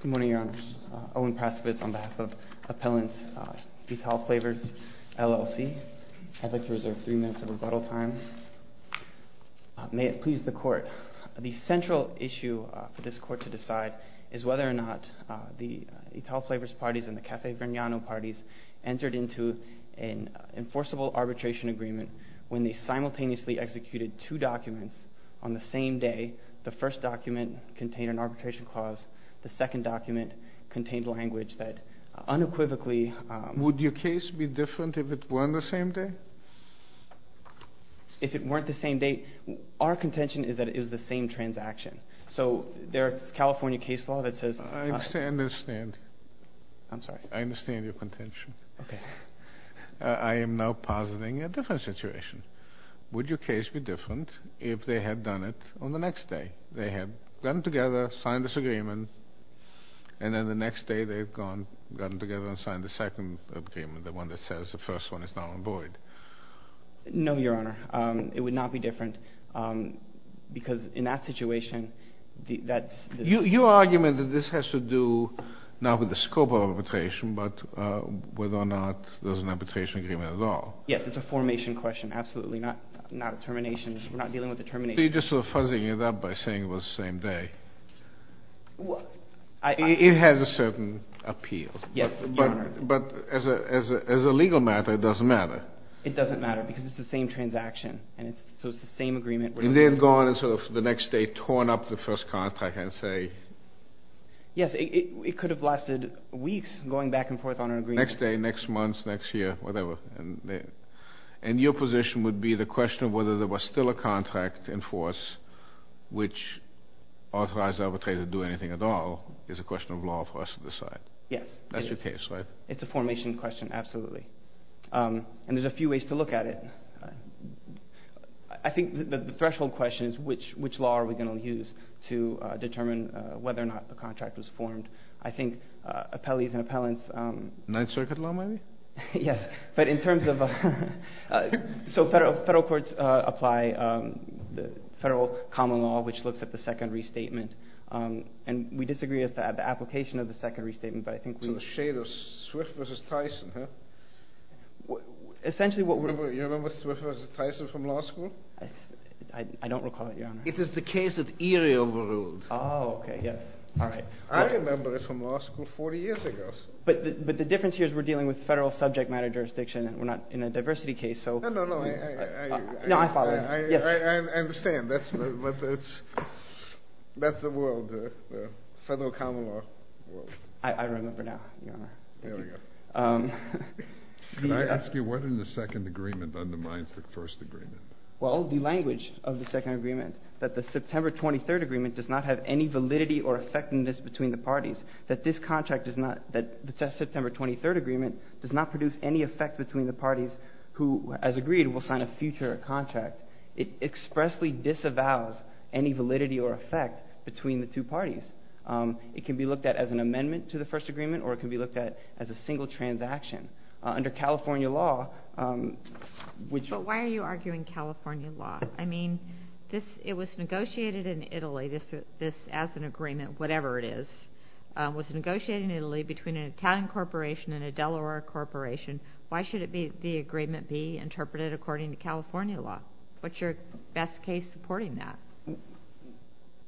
Good morning, Your Honors. Owen Prasovitz on behalf of Appellant Italflavors, LLC. I'd like to reserve three minutes of rebuttal time. May it please the Court. The central issue for this Court to decide is whether or not the Italflavors parties and the Caffe Vergnano parties entered into an enforceable arbitration agreement when they simultaneously executed two documents on the same day. The first document contained an arbitration clause. The second document contained language that unequivocally... Would your case be different if it weren't the same day? If it weren't the same day, our contention is that it was the same transaction. So there is California case law that says... I understand. I understand your contention. I am now positing a different situation. Would your case be different if they had done it on the next day? They had gotten together, signed this agreement, and then the next day they had gone, gotten together and signed the second agreement, the one that says the first one is now on void. No, Your Honor. It would not be different because in that situation, that's... Your argument that this has to do not with the scope of arbitration, but whether or not there was an arbitration agreement at all. Yes, it's a formation question. Absolutely not a termination. We're not dealing with a termination. So you're just sort of fuzzing it up by saying it was the same day. It has a certain appeal. Yes, Your Honor. But as a legal matter, it doesn't matter. It doesn't matter because it's the same transaction, so it's the same agreement. And they had gone and sort of the next day torn up the first contract and say... Yes, it could have lasted weeks going back and forth on an agreement. Next day, next month, next year, whatever. And your position would be the question of whether there was still a contract in force which authorized the arbitrator to do anything at all is a question of law for us to decide. Yes, it is. That's your case, right? It's a formation question. Absolutely. And there's a few ways to look at it. I think the threshold question is which law are we going to use to determine whether or not the contract was formed. I think appellees and appellants... Ninth Circuit law, maybe? Yes, but in terms of... So federal courts apply the federal common law which looks at the second restatement. And we disagree as to the application of the second restatement, but I think we... So the shade of Swift v. Tyson, huh? Essentially what we... You remember Swift v. Tyson from law school? I don't recall it, Your Honor. Oh, okay. Yes. All right. I remember it from law school 40 years ago. But the difference here is we're dealing with federal subject matter jurisdiction and we're not in a diversity case, so... No, no, no. I... No, I follow. I understand. That's the world, the federal common law world. I remember now, Your Honor. Thank you. There we go. Can I ask you what in the Second Agreement undermines the First Agreement? Well, the language of the Second Agreement. That the September 23rd Agreement does not have any validity or effectiveness between the parties. That this contract does not... That the September 23rd Agreement does not produce any effect between the parties who, as agreed, will sign a future contract. It expressly disavows any validity or effect between the two parties. It can be looked at as an amendment to the First Agreement or it can be looked at as a single transaction. Under California law, which... But why are you arguing California law? I mean, it was negotiated in Italy, this as an agreement, whatever it is, was negotiated in Italy between an Italian corporation and a Delaware corporation. Why should the agreement be interpreted according to California law? What's your best case supporting that?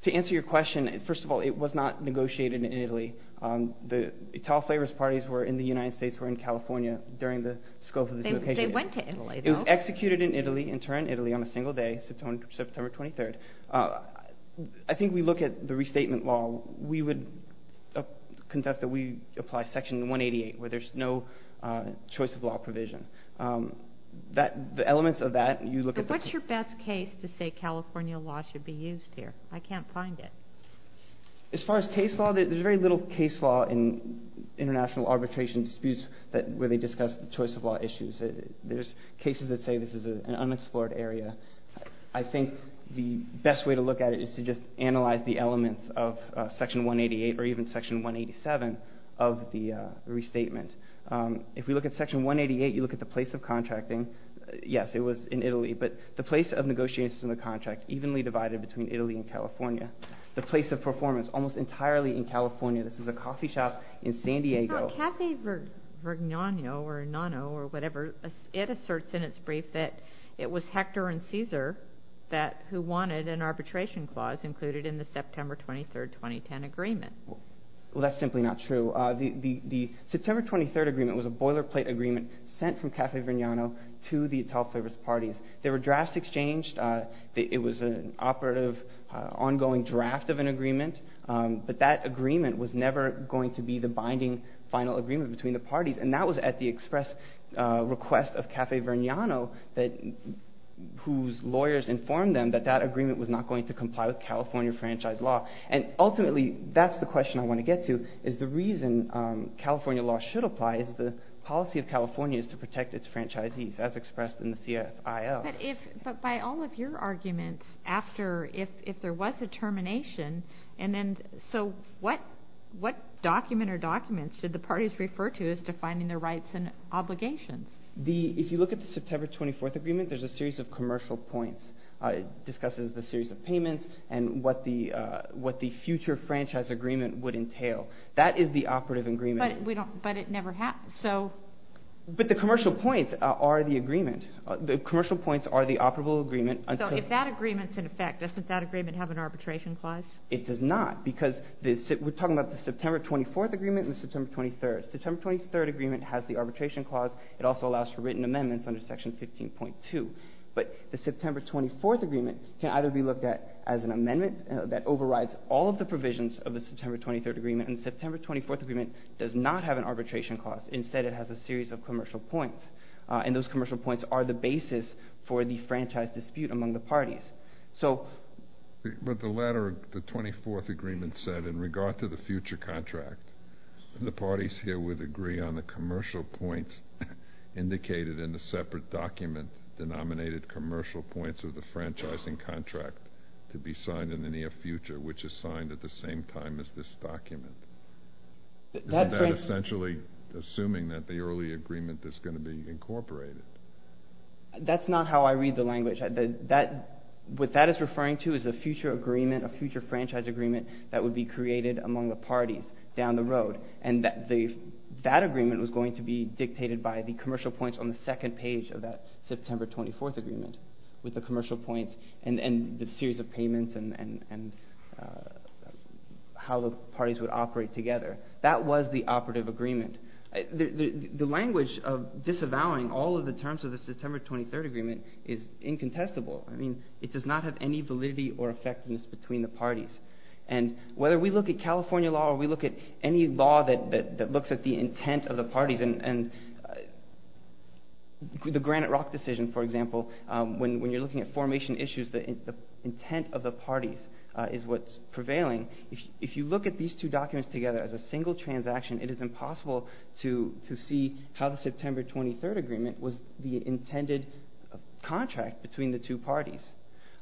To answer your question, first of all, it was not negotiated in Italy. The Italian Flavorist Parties in the United States were in California during the scope of this negotiation. They went to Italy, though. It was executed in Italy, in Turin, Italy, on a single day, September 23rd. I think we look at the restatement law. We would conduct that we apply Section 188 where there's no choice of law provision. The elements of that, you look at the... But what's your best case to say California law should be used here? I can't find it. As far as case law, there's very little case law in international arbitration disputes where they discuss choice of law issues. There's cases that say this is an unexplored area. I think the best way to look at it is to just analyze the elements of Section 188 or even Section 187 of the restatement. If we look at Section 188, you look at the place of contracting. Yes, it was in Italy, but the place of negotiations in the contract evenly divided between Italy and California. The place of performance almost entirely in California. This is a coffee shop in San Diego. Kathy Vignano or Nono or whatever, it asserts in its brief that it was Hector and Caesar who wanted an arbitration clause included in the September 23rd, 2010 agreement. Well, that's simply not true. The September 23rd agreement was a boilerplate agreement sent from Kathy Vignano to the Italian service parties. There were drafts exchanged. It was an operative ongoing draft of an agreement. But that agreement was never going to be the binding final agreement between the parties. And that was at the express request of Kathy Vignano whose lawyers informed them that that agreement was not going to comply with California franchise law. And ultimately, that's the question I want to get to is the reason California law should apply is the policy of California is to protect its franchisees as expressed in the CFIL. But by all of your arguments after if there was a termination and then so what document or documents did the parties refer to as defining their rights and obligations? If you look at the September 24th agreement, there's a series of commercial points. It discusses the series of payments and what the future franchise agreement would entail. That is the operative agreement. But it never happened. But the commercial points are the agreement. The commercial points are the operative agreement. So if that agreement's in effect, doesn't that agreement have an arbitration clause? It does not because we're talking about the September 24th agreement and the September 23rd. The September 23rd agreement has the arbitration clause. It also allows for written amendments under Section 15.2. But the September 24th agreement can either be looked at as an amendment that overrides all of the provisions of the September 23rd agreement. And the September 24th agreement does not have an arbitration clause. Instead, it has a series of commercial points. And those commercial points are the basis for the franchise dispute among the parties. But the 24th agreement said in regard to the future contract, the parties here would agree on the commercial points indicated in the separate document denominated commercial points of the franchising contract to be signed in the near future, which is signed at the same time as this document. Isn't that essentially assuming that the early agreement is going to be incorporated? That's not how I read the language. What that is referring to is a future agreement, a future franchise agreement, that would be created among the parties down the road. And that agreement was going to be dictated by the commercial points on the second page of that September 24th agreement with the commercial points and the series of payments and how the parties would operate together. That was the operative agreement. The language of disavowing all of the terms of the September 23rd agreement is incontestable. I mean, it does not have any validity or effectiveness between the parties. And whether we look at California law or we look at any law that looks at the intent of the parties and the Granite Rock decision, for example, when you're looking at formation issues, the intent of the parties is what's prevailing. If you look at these two documents together as a single transaction, it is impossible to see how the September 23rd agreement was the intended contract between the two parties.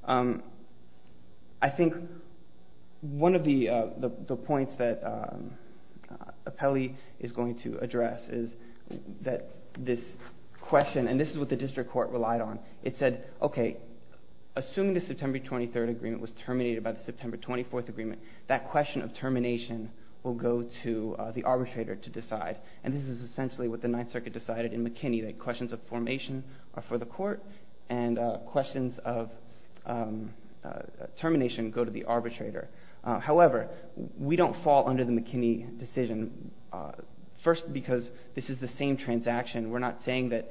I think one of the points that Apelli is going to address is that this question, and this is what the district court relied on, it said, okay, assuming the September 23rd agreement was terminated by the September 24th agreement, that question of termination will go to the arbitrator to decide. And this is essentially what the Ninth Circuit decided in McKinney, that questions of formation are for the court and questions of termination go to the arbitrator. However, we don't fall under the McKinney decision. First, because this is the same transaction. We're not saying that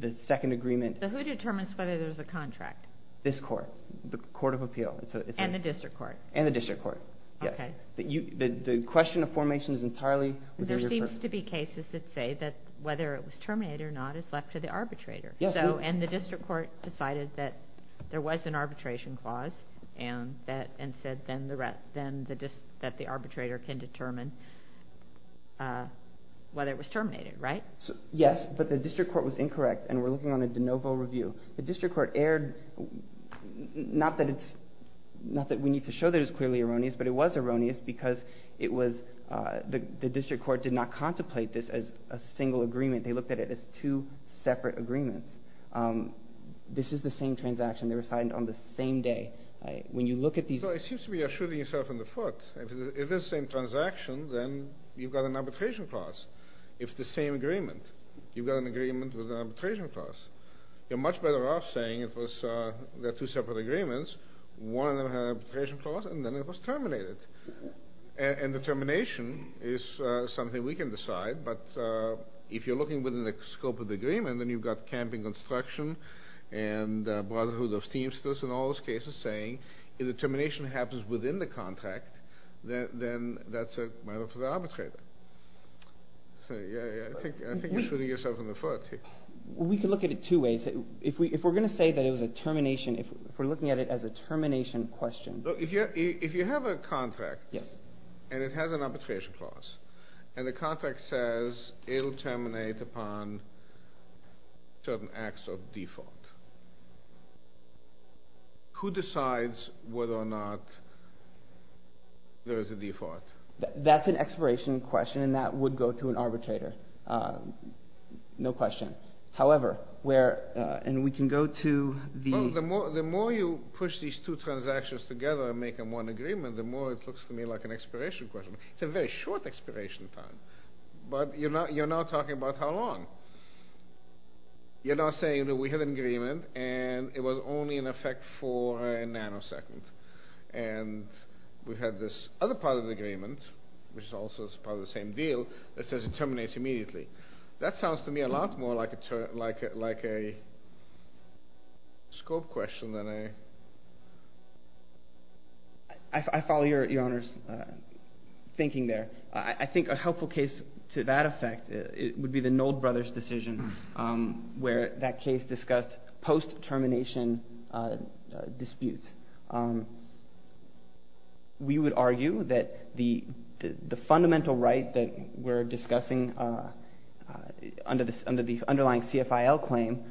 the second agreement. So who determines whether there's a contract? This court, the Court of Appeal. And the district court. And the district court, yes. Okay. The question of formation is entirely within your purview. There are supposed to be cases that say that whether it was terminated or not is left to the arbitrator. And the district court decided that there was an arbitration clause and said that the arbitrator can determine whether it was terminated, right? Yes, but the district court was incorrect, and we're looking on a de novo review. The district court erred, not that we need to show that it was clearly erroneous, but it was erroneous because it was the district court did not contemplate this as a single agreement. They looked at it as two separate agreements. This is the same transaction. They were signed on the same day. When you look at these. So it seems to be a shooting yourself in the foot. If it's the same transaction, then you've got an arbitration clause. If it's the same agreement, you've got an agreement with an arbitration clause. You're much better off saying it was two separate agreements. One of them had an arbitration clause, and then it was terminated. And the termination is something we can decide, but if you're looking within the scope of the agreement, then you've got camping construction and Brotherhood of Steamsters and all those cases saying if the termination happens within the contract, then that's a matter for the arbitrator. So, yeah, I think you're shooting yourself in the foot here. We can look at it two ways. If we're going to say that it was a termination, if we're looking at it as a termination question. If you have a contract and it has an arbitration clause and the contract says it will terminate upon certain acts of default, who decides whether or not there is a default? That's an expiration question, and that would go to an arbitrator. No question. However, where – and we can go to the – Well, the more you push these two transactions together and make them one agreement, the more it looks to me like an expiration question. It's a very short expiration time, but you're not talking about how long. You're not saying that we had an agreement and it was only in effect for a nanosecond, and we had this other part of the agreement, which is also part of the same deal, that says it terminates immediately. That sounds to me a lot more like a scope question than a – I follow your Honor's thinking there. I think a helpful case to that effect would be the Nold brothers' decision, where that case discussed post-termination disputes. We would argue that the fundamental right that we're discussing under the underlying CFIL claim,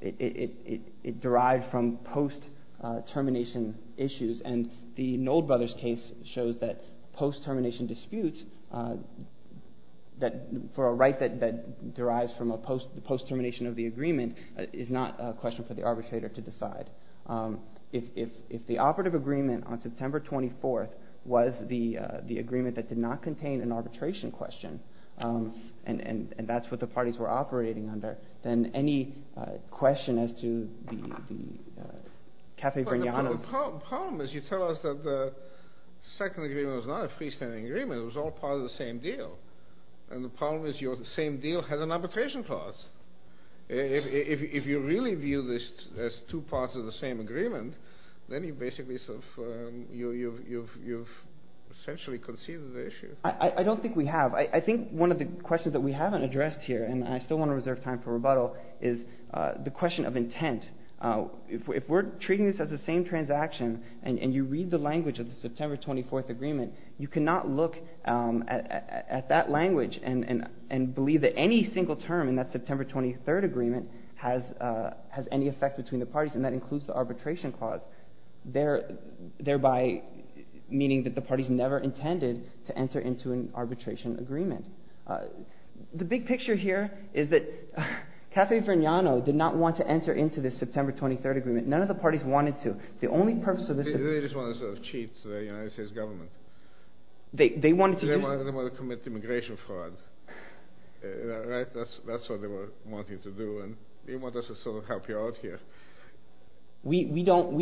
it derived from post-termination issues, and the Nold brothers' case shows that post-termination disputes, that for a right that derives from a post-termination of the agreement, is not a question for the arbitrator to decide. If the operative agreement on September 24th was the agreement that did not contain an arbitration question, and that's what the parties were operating under, then any question as to the Café Vignano's – The problem is you tell us that the second agreement was not a freestanding agreement. It was all part of the same deal, and the problem is your same deal has an arbitration clause. If you really view this as two parts of the same agreement, then you've essentially conceded the issue. I don't think we have. I think one of the questions that we haven't addressed here, and I still want to reserve time for rebuttal, is the question of intent. If we're treating this as the same transaction, and you read the language of the September 24th agreement, you cannot look at that language and believe that any single term in that September 23rd agreement has any effect between the parties, and that includes the arbitration clause, thereby meaning that the parties never intended to enter into an arbitration agreement. The big picture here is that Café Vignano did not want to enter into this September 23rd agreement. None of the parties wanted to. They just wanted to cheat the United States government. They wanted to commit immigration fraud. That's what they were wanting to do, and they wanted to sort of help you out here. We don't...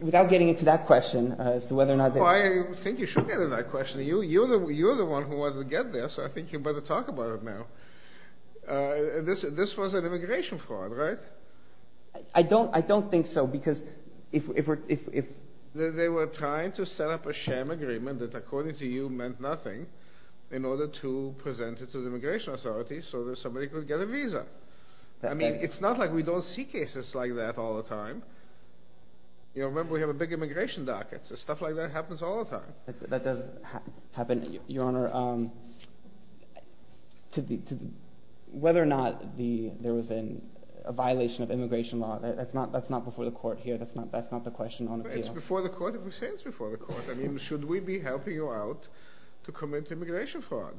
Without getting into that question as to whether or not... I think you should get into that question. You're the one who wanted to get there, so I think you'd better talk about it now. This was an immigration fraud, right? I don't think so, because if... They were trying to set up a sham agreement that according to you meant nothing in order to present it to the immigration authorities so that somebody could get a visa. I mean, it's not like we don't see cases like that all the time. Remember, we have a big immigration docket. Stuff like that happens all the time. That does happen. Your Honor, whether or not there was a violation of immigration law, that's not before the court here. That's not the question on appeal. It's before the court if we say it's before the court. I mean, should we be helping you out to commit immigration fraud?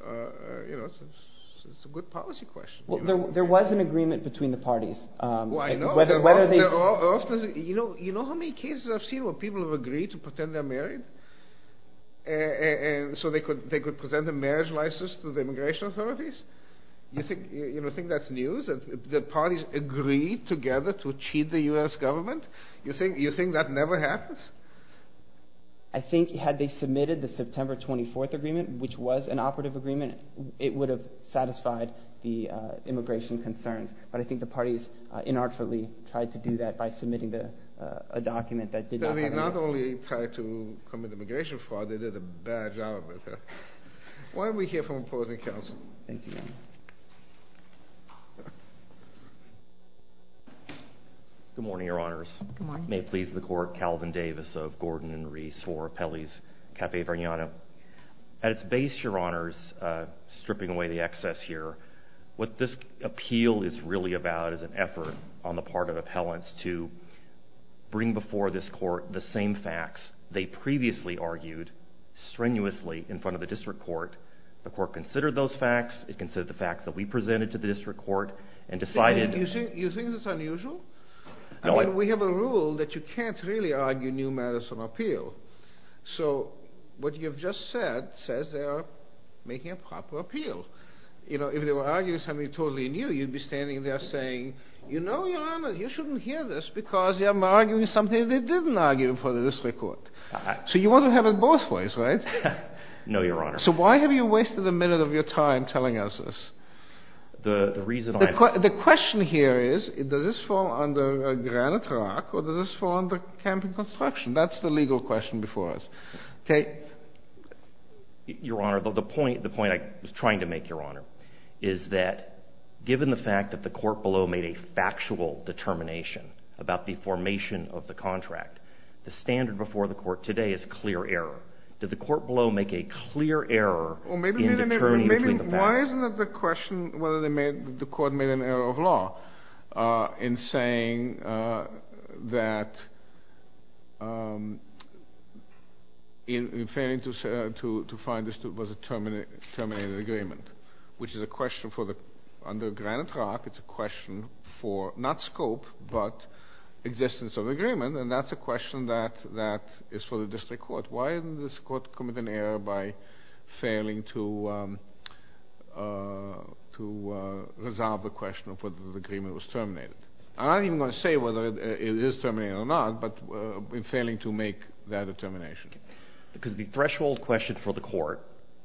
You know, it's a good policy question. There was an agreement between the parties. Well, I know. You know how many cases I've seen where people have agreed to pretend they're married so they could present a marriage license to the immigration authorities? You think that's news? The parties agreed together to cheat the U.S. government? You think that never happens? I think had they submitted the September 24th agreement, which was an operative agreement, it would have satisfied the immigration concerns. But I think the parties inartfully tried to do that by submitting a document that did not... So they not only tried to commit immigration fraud, they did a bad job of it. Why are we here from opposing counsel? Thank you, Your Honor. Good morning, Your Honors. Good morning. May it please the Court, Calvin Davis of Gordon & Reese for Appellees, Caffe Vergnano. At its base, Your Honors, stripping away the excess here, what this appeal is really about is an effort on the part of appellants to bring before this court the same facts they previously argued strenuously in front of the district court. The court considered those facts, it considered the facts that we presented to the district court, and decided... You think that's unusual? I mean, we have a rule that you can't really argue new matters of appeal. So what you have just said says they are making a proper appeal. You know, if they were arguing something totally new, you'd be standing there saying, You know, Your Honor, you shouldn't hear this because I'm arguing something they didn't argue in front of the district court. So you want to have it both ways, right? No, Your Honor. So why have you wasted a minute of your time telling us this? The reason I... The question here is, does this fall under granite rock or does this fall under camping construction? That's the legal question before us. Okay. Your Honor, the point I was trying to make, Your Honor, is that given the fact that the court below made a factual determination about the formation of the contract, the standard before the court today is clear error. Did the court below make a clear error in determining between the facts? Why isn't it the question whether the court made an error of law in saying that in failing to find this was a terminated agreement, which is a question for the... Under granite rock, it's a question for, not scope, but existence of agreement, and that's a question that is for the district court. Why didn't this court commit an error by failing to resolve the question of whether the agreement was terminated? I'm not even going to say whether it is terminated or not, but in failing to make that determination. Because the threshold question for the court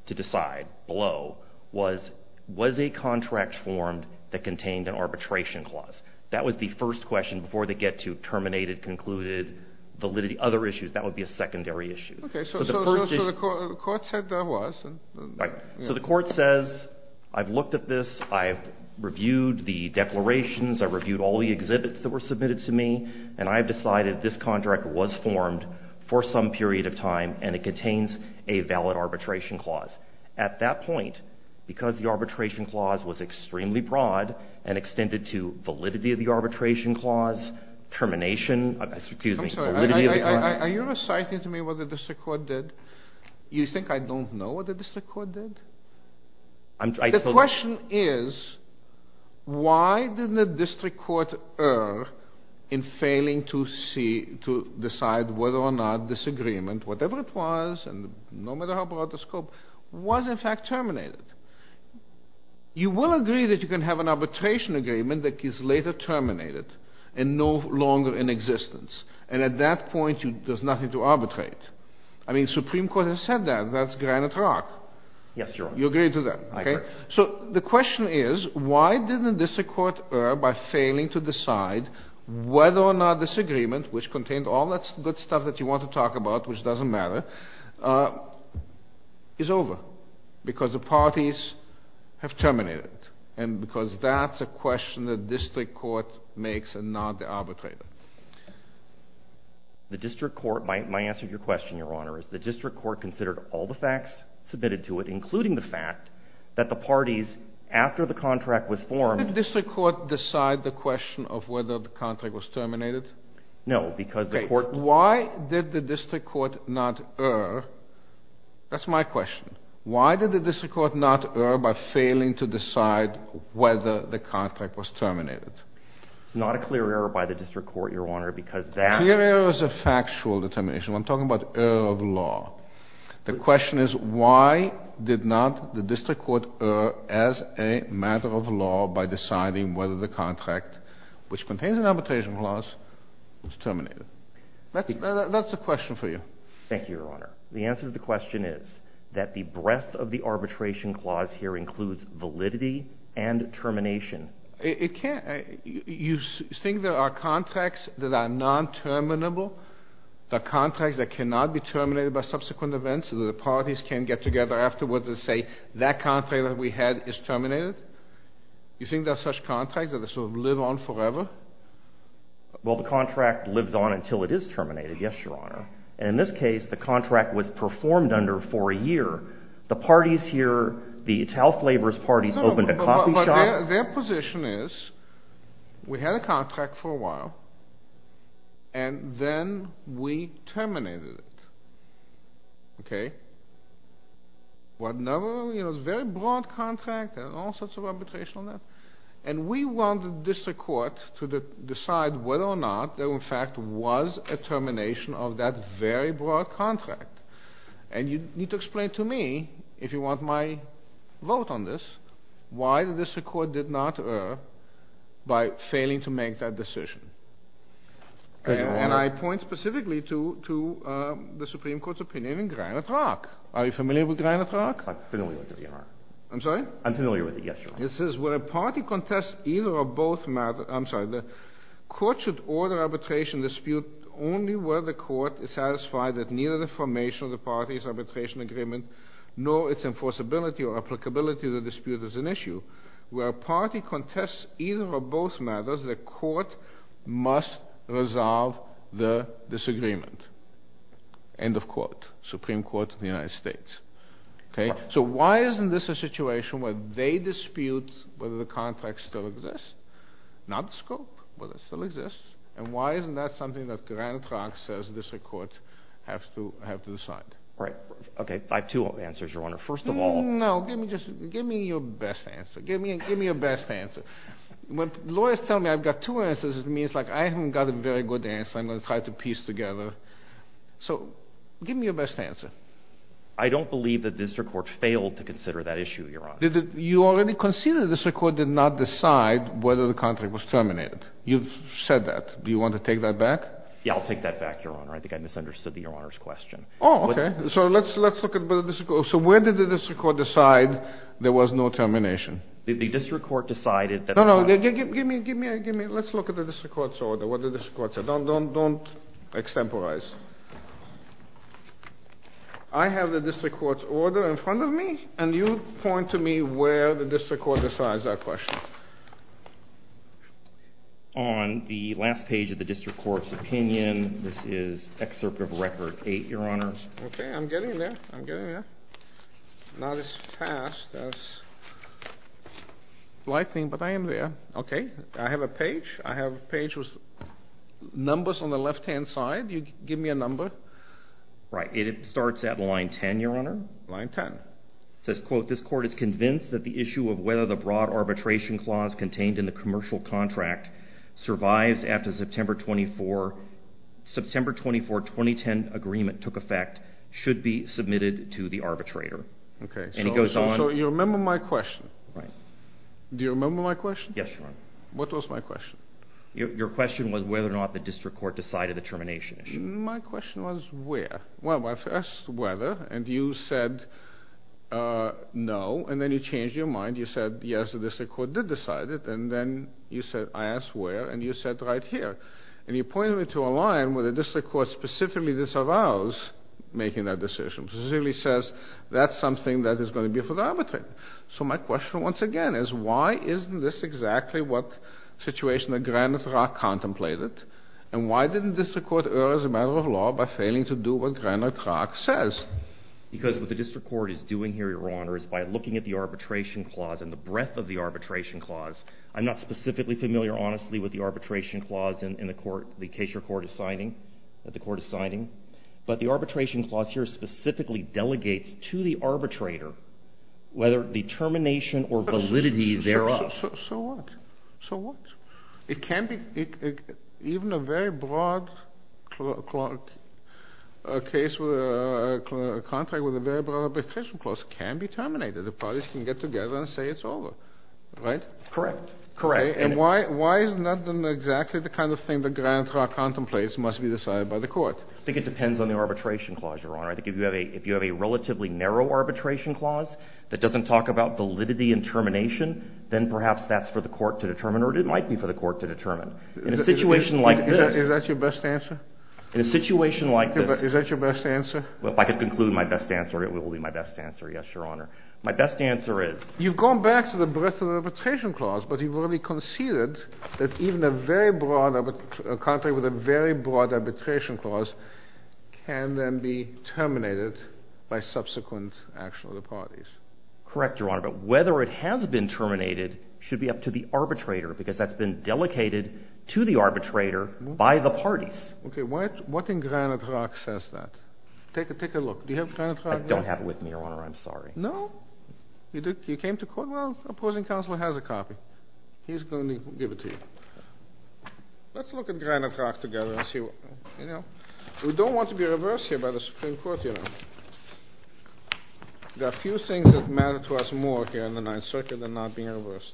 to decide below was, was a contract formed that contained an arbitration clause? That was the first question before they get to terminated, concluded, validity, other issues. That would be a secondary issue. Okay. So the court said there was. Right. So the court says, I've looked at this, I've reviewed the declarations, I've reviewed all the exhibits that were submitted to me, and I've decided this contract was formed for some period of time, and it contains a valid arbitration clause. At that point, because the arbitration clause was extremely broad and extended to validity of the arbitration clause, termination, excuse me, validity of the clause... Are you reciting to me what the district court did? You think I don't know what the district court did? The question is, why didn't the district court err in failing to see, to decide whether or not this agreement, whatever it was, no matter how broad the scope, was in fact terminated? You will agree that you can have an arbitration agreement that is later terminated and no longer in existence. And at that point, there's nothing to arbitrate. I mean, Supreme Court has said that. That's granite rock. Yes, Your Honor. You agree to that? I agree. So the question is, why didn't the district court err by failing to decide whether or not this agreement, which contained all that good stuff that you want to talk about, which doesn't matter, is over? Because the parties have terminated it. And because that's a question that the district court makes and not the arbitrator. The district court, my answer to your question, Your Honor, is the district court considered all the facts submitted to it, including the fact that the parties, after the contract was formed... Did the district court decide the question of whether the contract was terminated? No, because the court... Okay, why did the district court not err? That's my question. Why did the district court not err by failing to decide whether the contract was terminated? It's not a clear error by the district court, Your Honor, because that... Clear error is a factual determination. I'm talking about error of law. The question is, why did not the district court err as a matter of law by deciding whether the contract, which contains an arbitration clause, was terminated? That's the question for you. Thank you, Your Honor. The answer to the question is that the breadth of the arbitration clause here includes validity and termination. It can't... You think there are contracts that are non-terminable, the contracts that cannot be terminated by subsequent events, so that the parties can get together afterwards and say, that contract that we had is terminated? You think there are such contracts that they sort of live on forever? Well, the contract lives on until it is terminated, yes, Your Honor. And in this case, the contract was performed under for a year. The parties here, the child laborers' parties, opened a coffee shop. No, but their position is, we had a contract for a while, and then we terminated it. Okay? What number? You know, it's a very broad contract. There are all sorts of arbitration on that. And we want the district court to decide whether or not there in fact was a termination of that very broad contract. And you need to explain to me if you want my vote on this, why the district court did not err by failing to make that decision. And I point specifically to the Supreme Court's opinion in Granite Rock. Are you familiar with Granite Rock? I'm familiar with it, Your Honor. I'm sorry? I'm familiar with it, yes, Your Honor. This is where a party contests either or both matters. I'm sorry, the court should order arbitration dispute only where the court is satisfied that neither the formation of the parties arbitration agreement nor its enforceability or applicability of the dispute is an issue. Where a party contests either or both matters, the court must resolve the disagreement. End of quote. Supreme Court of the United States. Okay? So why isn't this a situation where they dispute whether the contract still exists? Not the scope, but it still exists. And why isn't that something that Granite Rock says the district court has to decide? Right. Okay, I have two answers, Your Honor. First of all... No, give me your best answer. Give me your best answer. When lawyers tell me I've got two answers, it means like I haven't got a very good answer. I'm going to try to piece together. So give me your best answer. I don't believe the district court failed to consider that issue, Your Honor. You already conceded the district court did not decide whether the contract was terminated. You've said that. Do you want to take that back? Yeah, I'll take that back, Your Honor. I think I misunderstood the Your Honor's question. Oh, okay. So let's look at... So where did the district court decide there was no termination? The district court decided that... No, no. Give me... Let's look at the district court's order. Don't extemporize. I have the district court's order in front of me, and you point to me where the district court decides that question. On the last page of the district court's opinion, this is excerpt of Record 8, Your Honor. Okay, I'm getting there. I'm getting there. Not as fast as lightning, but I am there. Okay. I have a page. I have a page with numbers on the left-hand side. You give me a number. Right. It starts at line 10, Your Honor. Line 10. It says, quote, This court is convinced that the issue of whether the broad arbitration clause contained in the commercial contract survives after September 24, 2010 agreement took effect, should be submitted to the arbitrator. Okay. And it goes on... So you remember my question? Right. Do you remember my question? Yes, Your Honor. What was my question? Your question was whether or not the district court decided the termination issue. My question was where. Well, I asked whether, and you said no, and then you changed your mind. You said, yes, the district court did decide it, and then I asked where, and you said right here. And you pointed me to a line where the district court specifically disavows making that decision, specifically says that's something that is going to be for the arbitrator. So my question once again is, why isn't this exactly what the situation that Granith Rock contemplated, and why didn't the district court err as a matter of law by failing to do what Granith Rock says? Because what the district court is doing here, Your Honor, is by looking at the arbitration clause and the breadth of the arbitration clause. I'm not specifically familiar, honestly, with the arbitration clause in the case your court is signing, that the court is signing, but the arbitration clause here specifically delegates to the arbitrator whether the termination or validity thereof. So what? So what? It can be, even a very broad case, a contract with a very broad arbitration clause can be terminated. The parties can get together and say it's over, right? Correct. And why is that not exactly the kind of thing that Granith Rock contemplates must be decided by the court? I think it depends on the arbitration clause, Your Honor. I think if you have a relatively narrow arbitration clause that doesn't talk about validity and termination, then perhaps that's for the court to determine, or it might be for the court to determine. In a situation like this... Is that your best answer? In a situation like this... Is that your best answer? Well, if I could conclude my best answer, it will be my best answer, yes, Your Honor. My best answer is... You've gone back to the breadth of the arbitration clause, but you've already conceded that even a very broad... a contract with a very broad arbitration clause can then be terminated by subsequent action of the parties. Correct, Your Honor, but whether it has been terminated should be up to the arbitrator, because that's been delegated to the arbitrator by the parties. Okay, what in Granith Rock says that? Take a look. Do you have Granith Rock? I don't have it with me, Your Honor. I'm sorry. No? You came to court? Well, opposing counsel has a copy. He's going to give it to you. Let's look at Granith Rock together and see what... You know, we don't want to be reversed here by the Supreme Court, you know. There are few things that matter to us more here in the Ninth Circuit than not being reversed.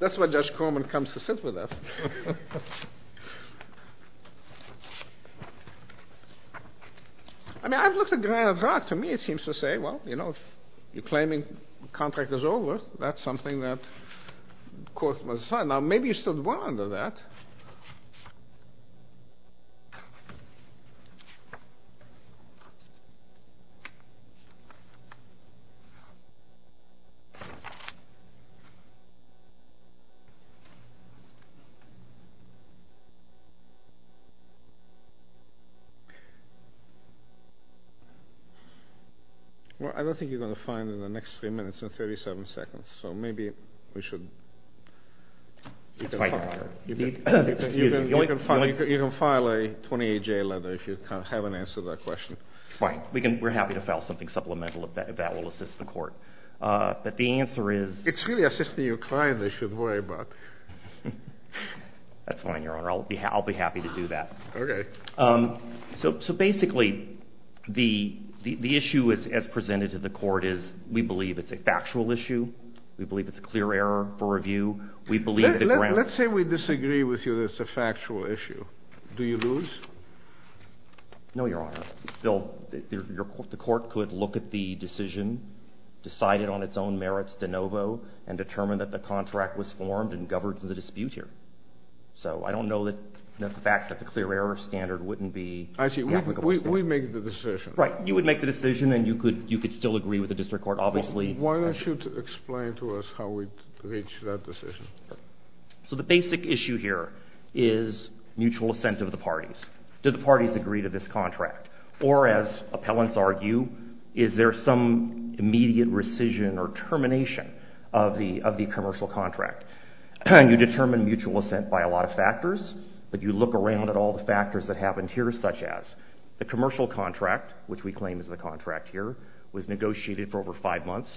That's why Judge Corman comes to sit with us. I mean, I've looked at Granith Rock. To me, it seems to say, well, you know, if you're claiming the contract is over, that's something that the court must decide. Now, maybe you stood well under that. Well, I don't think you're going to find in the next three minutes and 37 seconds, so maybe we should... You can file a 28-J letter if you haven't answered that question. Fine. We're happy to file something supplemental if that will assist the court. But the answer is... It's really assisting your client they should worry about. That's fine, Your Honor. I'll be happy to do that. Okay. So basically, the issue as presented to the court is, we believe it's a factual issue. We believe it's a clear error for review. Let's say we disagree with you that it's a factual issue. Do you lose? No, Your Honor. Still, the court could look at the decision, decide it on its own merits de novo, and determine that the contract was formed and governs the dispute here. So I don't know that the fact that the clear error standard wouldn't be... I see. We make the decision. Right. You would make the decision and you could still agree with the district court, obviously. Why don't you explain to us how we reach that decision? So the basic issue here is mutual assent of the parties. Do the parties agree to this contract? Or as appellants argue, is there some immediate rescission or termination of the commercial contract? You determine mutual assent by a lot of factors, but you look around at all the factors that happened here, such as the commercial contract, which we claim is the contract here, was negotiated for over five months.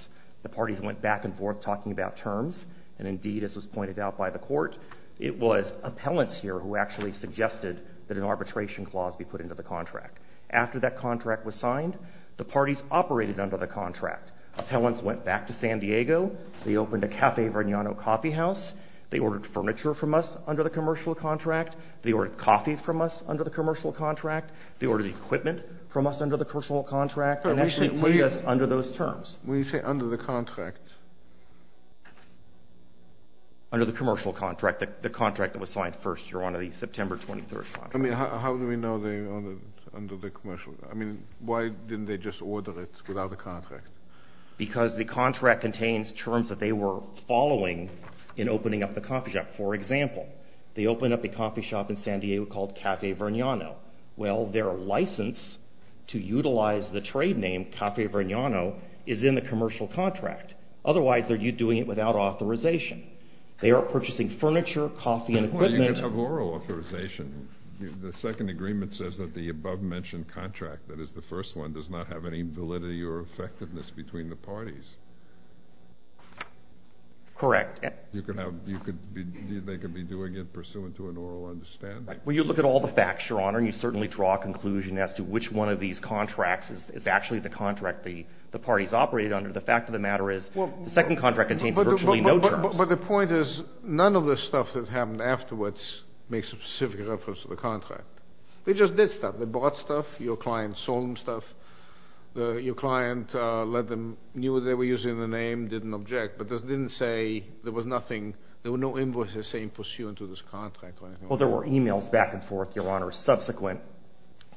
The parties went back and forth talking about terms, and indeed, as was pointed out by the court, it was appellants here who actually suggested that an arbitration clause be put into the contract. After that contract was signed, the parties operated under the contract. Appellants went back to San Diego. They opened a Cafe Varniano coffeehouse. They ordered furniture from us under the commercial contract. They ordered coffee from us under the commercial contract. They ordered equipment from us under the commercial contract. And actually put us under those terms. When you say under the contract? Under the commercial contract, the contract that was signed first. You're on the September 23rd contract. I mean, how do we know they're under the commercial? I mean, why didn't they just order it without the contract? Because the contract contains terms that they were following in opening up the coffee shop. For example, they opened up a coffee shop in San Diego called Cafe Varniano. Well, their license to utilize the trade name Cafe Varniano is in the commercial contract. Otherwise, they're doing it without authorization. They are purchasing furniture, coffee, and equipment. Well, you have oral authorization. The second agreement says that the above-mentioned contract, that is the first one, does not have any validity or effectiveness between the parties. Correct. They could be doing it pursuant to an oral understanding. Well, you look at all the facts, Your Honor, and you certainly draw a conclusion as to which one of these contracts is actually the contract the parties operated under. The fact of the matter is the second contract contains virtually no terms. But the point is none of the stuff that happened afterwards makes a specific reference to the contract. They just did stuff. They bought stuff. Your client sold them stuff. Your client knew they were using the name, didn't object, but didn't say there was nothing. There were no invoices saying pursuant to this contract. Well, there were e-mails back and forth, Your Honor, subsequent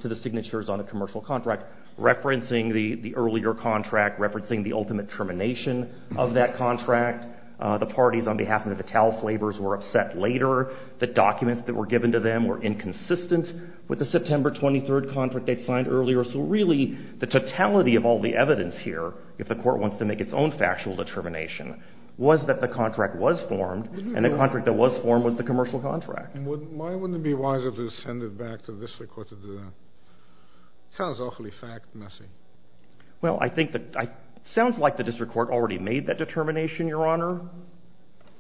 to the signatures on the commercial contract referencing the earlier contract, referencing the ultimate termination of that contract. The parties on behalf of Natal Flavors were upset later. The documents that were given to them were inconsistent with the September 23rd contract they'd signed earlier. So really the totality of all the evidence here, if the court wants to make its own factual determination, was that the contract was formed, and the contract that was formed was the commercial contract. Why wouldn't it be wiser to send it back to the district court to do that? It sounds awfully fact-messy. Well, it sounds like the district court already made that determination, Your Honor.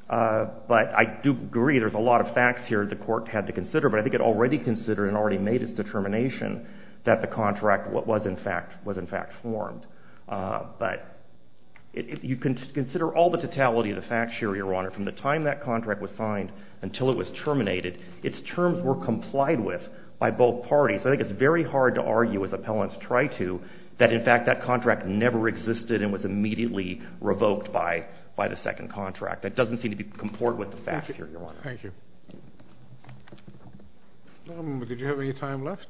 But I do agree there's a lot of facts here the court had to consider, but I think it already considered and already made its determination that the contract was in fact formed. But if you consider all the totality of the facts here, Your Honor, from the time that contract was signed until it was terminated, its terms were complied with by both parties. I think it's very hard to argue, as appellants try to, that in fact that contract never existed and was immediately revoked by the second contract. That doesn't seem to comport with the facts here, Your Honor. Thank you. Did you have any time left?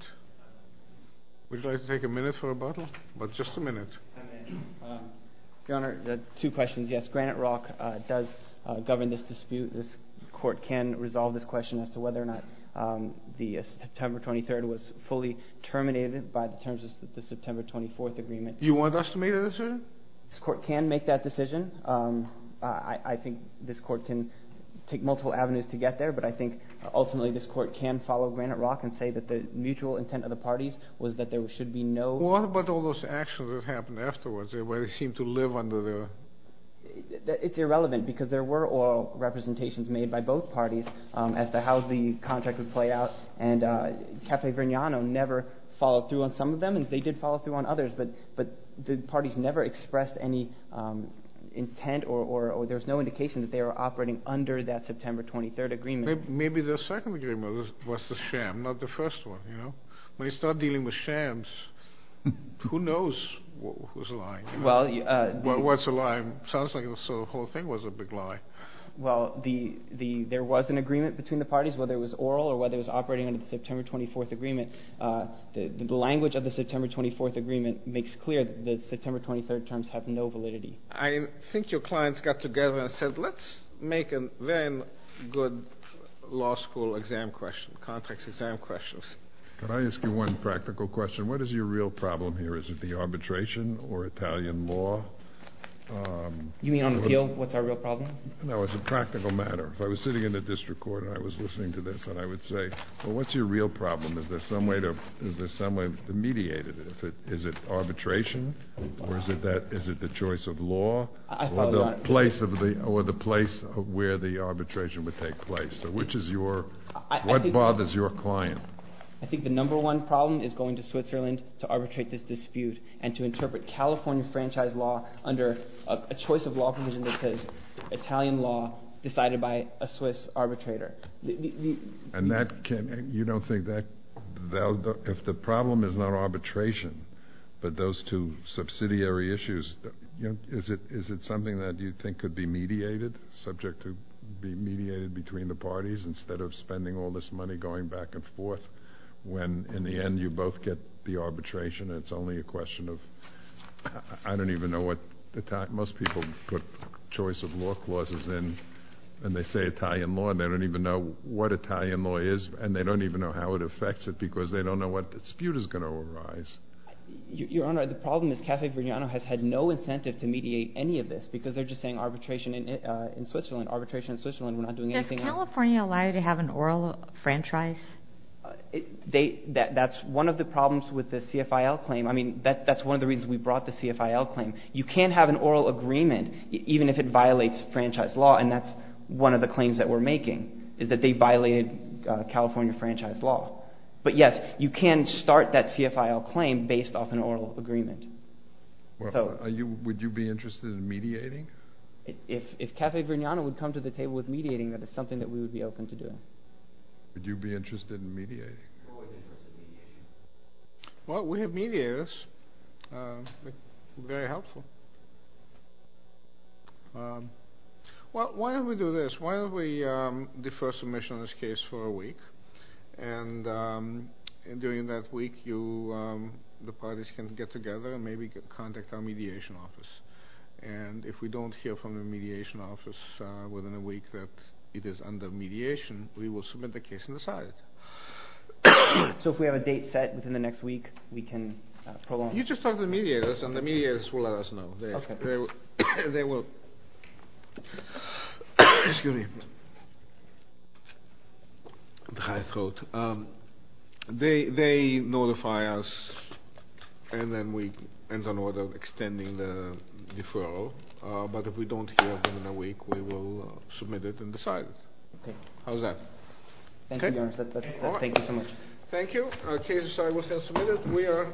Would you like to take a minute for rebuttal? About just a minute. Your Honor, two questions. Yes, Granite Rock does govern this dispute. This court can resolve this question as to whether or not the September 23rd was fully terminated by the terms of the September 24th agreement. Do you want us to make that decision? This court can make that decision. I think this court can take multiple avenues to get there, but I think ultimately this court can follow Granite Rock and say that the mutual intent of the parties was that there should be no... Well, what about all those actions that happened afterwards, where they seemed to live under their... It's irrelevant, because there were oral representations made by both parties as to how the contract would play out, and Café Vignano never followed through on some of them, and they did follow through on others, but the parties never expressed any intent or there was no indication that they were operating under that September 23rd agreement. Maybe the second agreement was the sham, not the first one. When you start dealing with shams, who knows who's lying? Well, what's a lie? It sounds like the whole thing was a big lie. Well, there was an agreement between the parties, whether it was oral or whether it was operating under the September 24th agreement. The language of the September 24th agreement makes clear that the September 23rd terms have no validity. I think your clients got together and said, let's make a very good law school exam question, contract exam question. Can I ask you one practical question? What is your real problem here? Is it the arbitration or Italian law? You mean on appeal? What's our real problem? No, as a practical matter. If I was sitting in the district court and I was listening to this, I would say, well, what's your real problem? Is there some way to mediate it? Is it arbitration or is it the choice of law? Or the place where the arbitration would take place? What bothers your client? I think the number one problem is going to Switzerland to arbitrate this dispute and to interpret California franchise law under a choice of law provision that says Italian law decided by a Swiss arbitrator. And you don't think that, if the problem is not arbitration, but those two subsidiary issues, is it something that you think could be mediated, subject to be mediated between the parties instead of spending all this money going back and forth when in the end you both get the arbitration and it's only a question of, I don't even know what, most people put choice of law clauses in and they say Italian law and they don't even know what Italian law is and they don't even know how it affects it because they don't know what dispute is going to arise. Your Honor, the problem is Cafe Vignano has had no incentive to mediate any of this because they're just saying arbitration in Switzerland, arbitration in Switzerland, we're not doing anything else. Does California allow you to have an oral franchise? That's one of the problems with the CFIL claim. I mean, that's one of the reasons we brought the CFIL claim. You can't have an oral agreement even if it violates franchise law and that's one of the claims that we're making is that they violated California franchise law. But yes, you can start that CFIL claim based off an oral agreement. Would you be interested in mediating? If Cafe Vignano would come to the table with mediating, that is something that we would be open to doing. Would you be interested in mediating? Well, we have mediators. Very helpful. Why don't we do this? Why don't we defer submission on this case for a week and during that week the parties can get together and maybe contact our mediation office. And if we don't hear from the mediation office within a week that it is under mediation, we will submit the case and decide. So if we have a date set within the next week, we can prolong it? You just talk to the mediators and the mediators will let us know. They will notify us and then we can extend the deferral. But if we don't hear from them in a week, we will submit it and decide. Okay. How's that? Thank you so much. Thank you. The case is submitted.